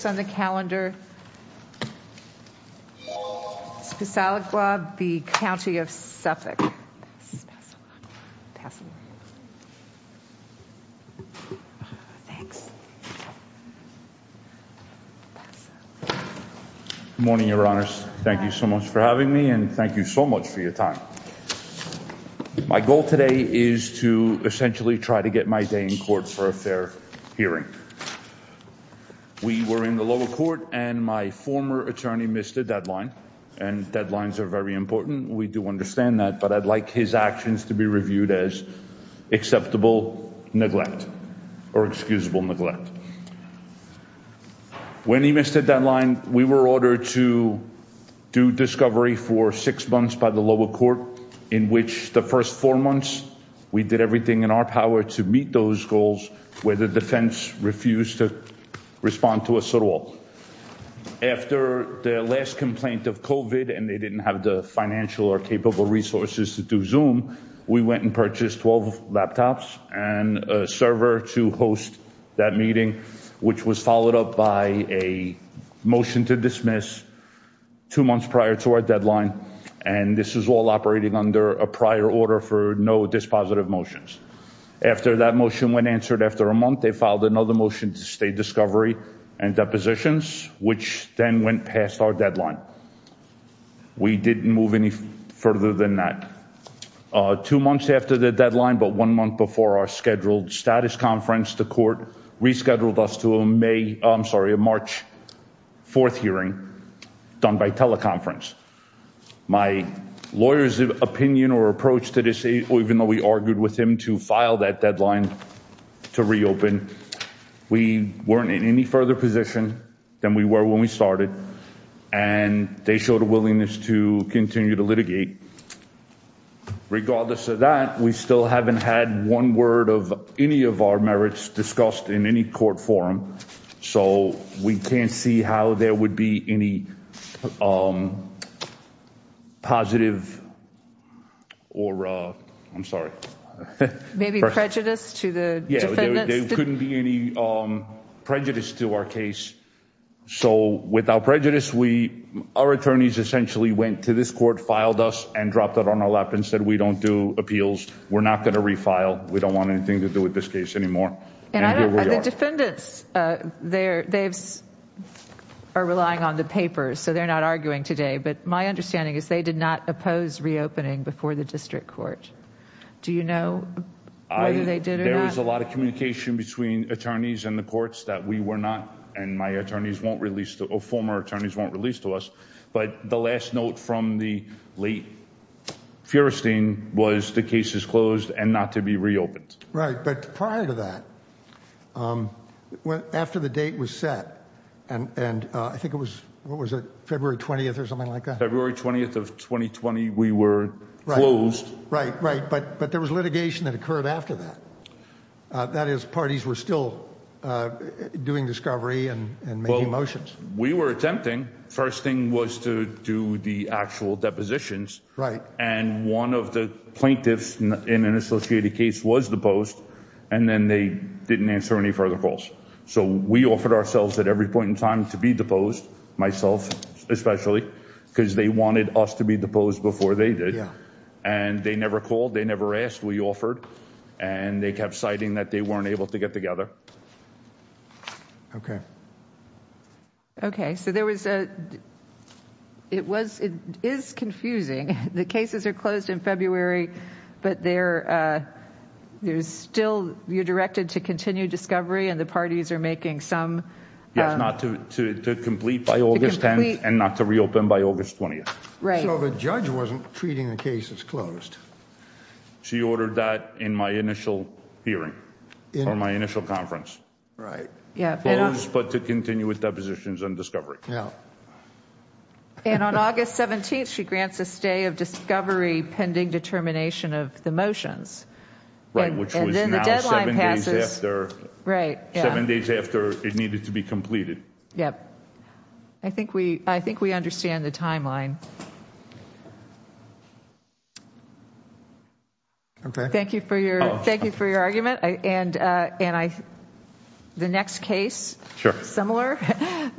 Good morning, Your Honors. Thank you so much for having me and thank you so much for your time. My goal today is to essentially try to get my day in court for a fair hearing. We were in the lower court and my former attorney missed a deadline and deadlines are very important. We do understand that but I'd like his actions to be reviewed as acceptable neglect or excusable neglect. When he missed a deadline we were ordered to do discovery for six months by the lower court in which the first four months we did everything in our power to meet those goals where the defense refused to respond to us at all. After the last complaint of COVID and they didn't have the financial or capable resources to do Zoom, we went and purchased 12 laptops and a server to host that meeting which was followed up by a motion to dismiss two months prior to our deadline and this is all operating under a prior order for no dispositive motions. After that motion when answered after a month they filed another motion to stay discovery and depositions which then went past our deadline. We didn't move any further than that. Two months after the deadline but one month before our scheduled status conference the court rescheduled us to a March 4th hearing done by teleconference. My lawyer's opinion or approach to this even though we argued with him to file that deadline to reopen we weren't in any further position than we were when we started and they showed a willingness to continue to litigate. Regardless of that we still haven't had one word of any of our merits discussed in any court forum so we can't see how there would be any positive or I'm sorry maybe prejudice to the yeah there couldn't be any prejudice to our case so without prejudice we our attorneys essentially went to this court filed us and dropped it on our lap and said we don't do appeals we're not gonna refile we don't want anything to do with this case anymore. The defendants are relying on the papers so they're not arguing today but my understanding is they did not oppose reopening before the district court do you know whether they did or not? There was a lot of communication between attorneys and the courts that we were not and my attorneys won't release the former attorneys won't release to us but the last note from the late Feuerstein was the case is closed and not to be reopened. Right but prior to that after the date was set and and I think it was what was it February 20th or something like that? February 20th of 2020 we were closed. Right right but but there was litigation that occurred after that that is parties were still doing discovery and making motions. We were attempting first thing was to do the actual depositions right and one of the plaintiffs in an associated case was deposed and then they didn't answer any further calls. So we offered ourselves at every point in time to be deposed myself especially because they wanted us to be deposed before they did and they never called they never asked we offered and they kept citing that they weren't able to get together. Okay okay so there was a it was it is confusing the cases are February but there there's still you're directed to continue discovery and the parties are making some. Yes not to complete by August 10th and not to reopen by August 20th. Right. So the judge wasn't treating the case as closed. She ordered that in my initial hearing in my initial conference. Right. Yeah but to continue with depositions and discovery. Yeah and on August 17th she grants a of discovery pending determination of the motions. Right which was now seven days after it needed to be completed. Yep I think we I think we understand the timeline. Okay thank you for your thank you for your argument and and I the next case sure similar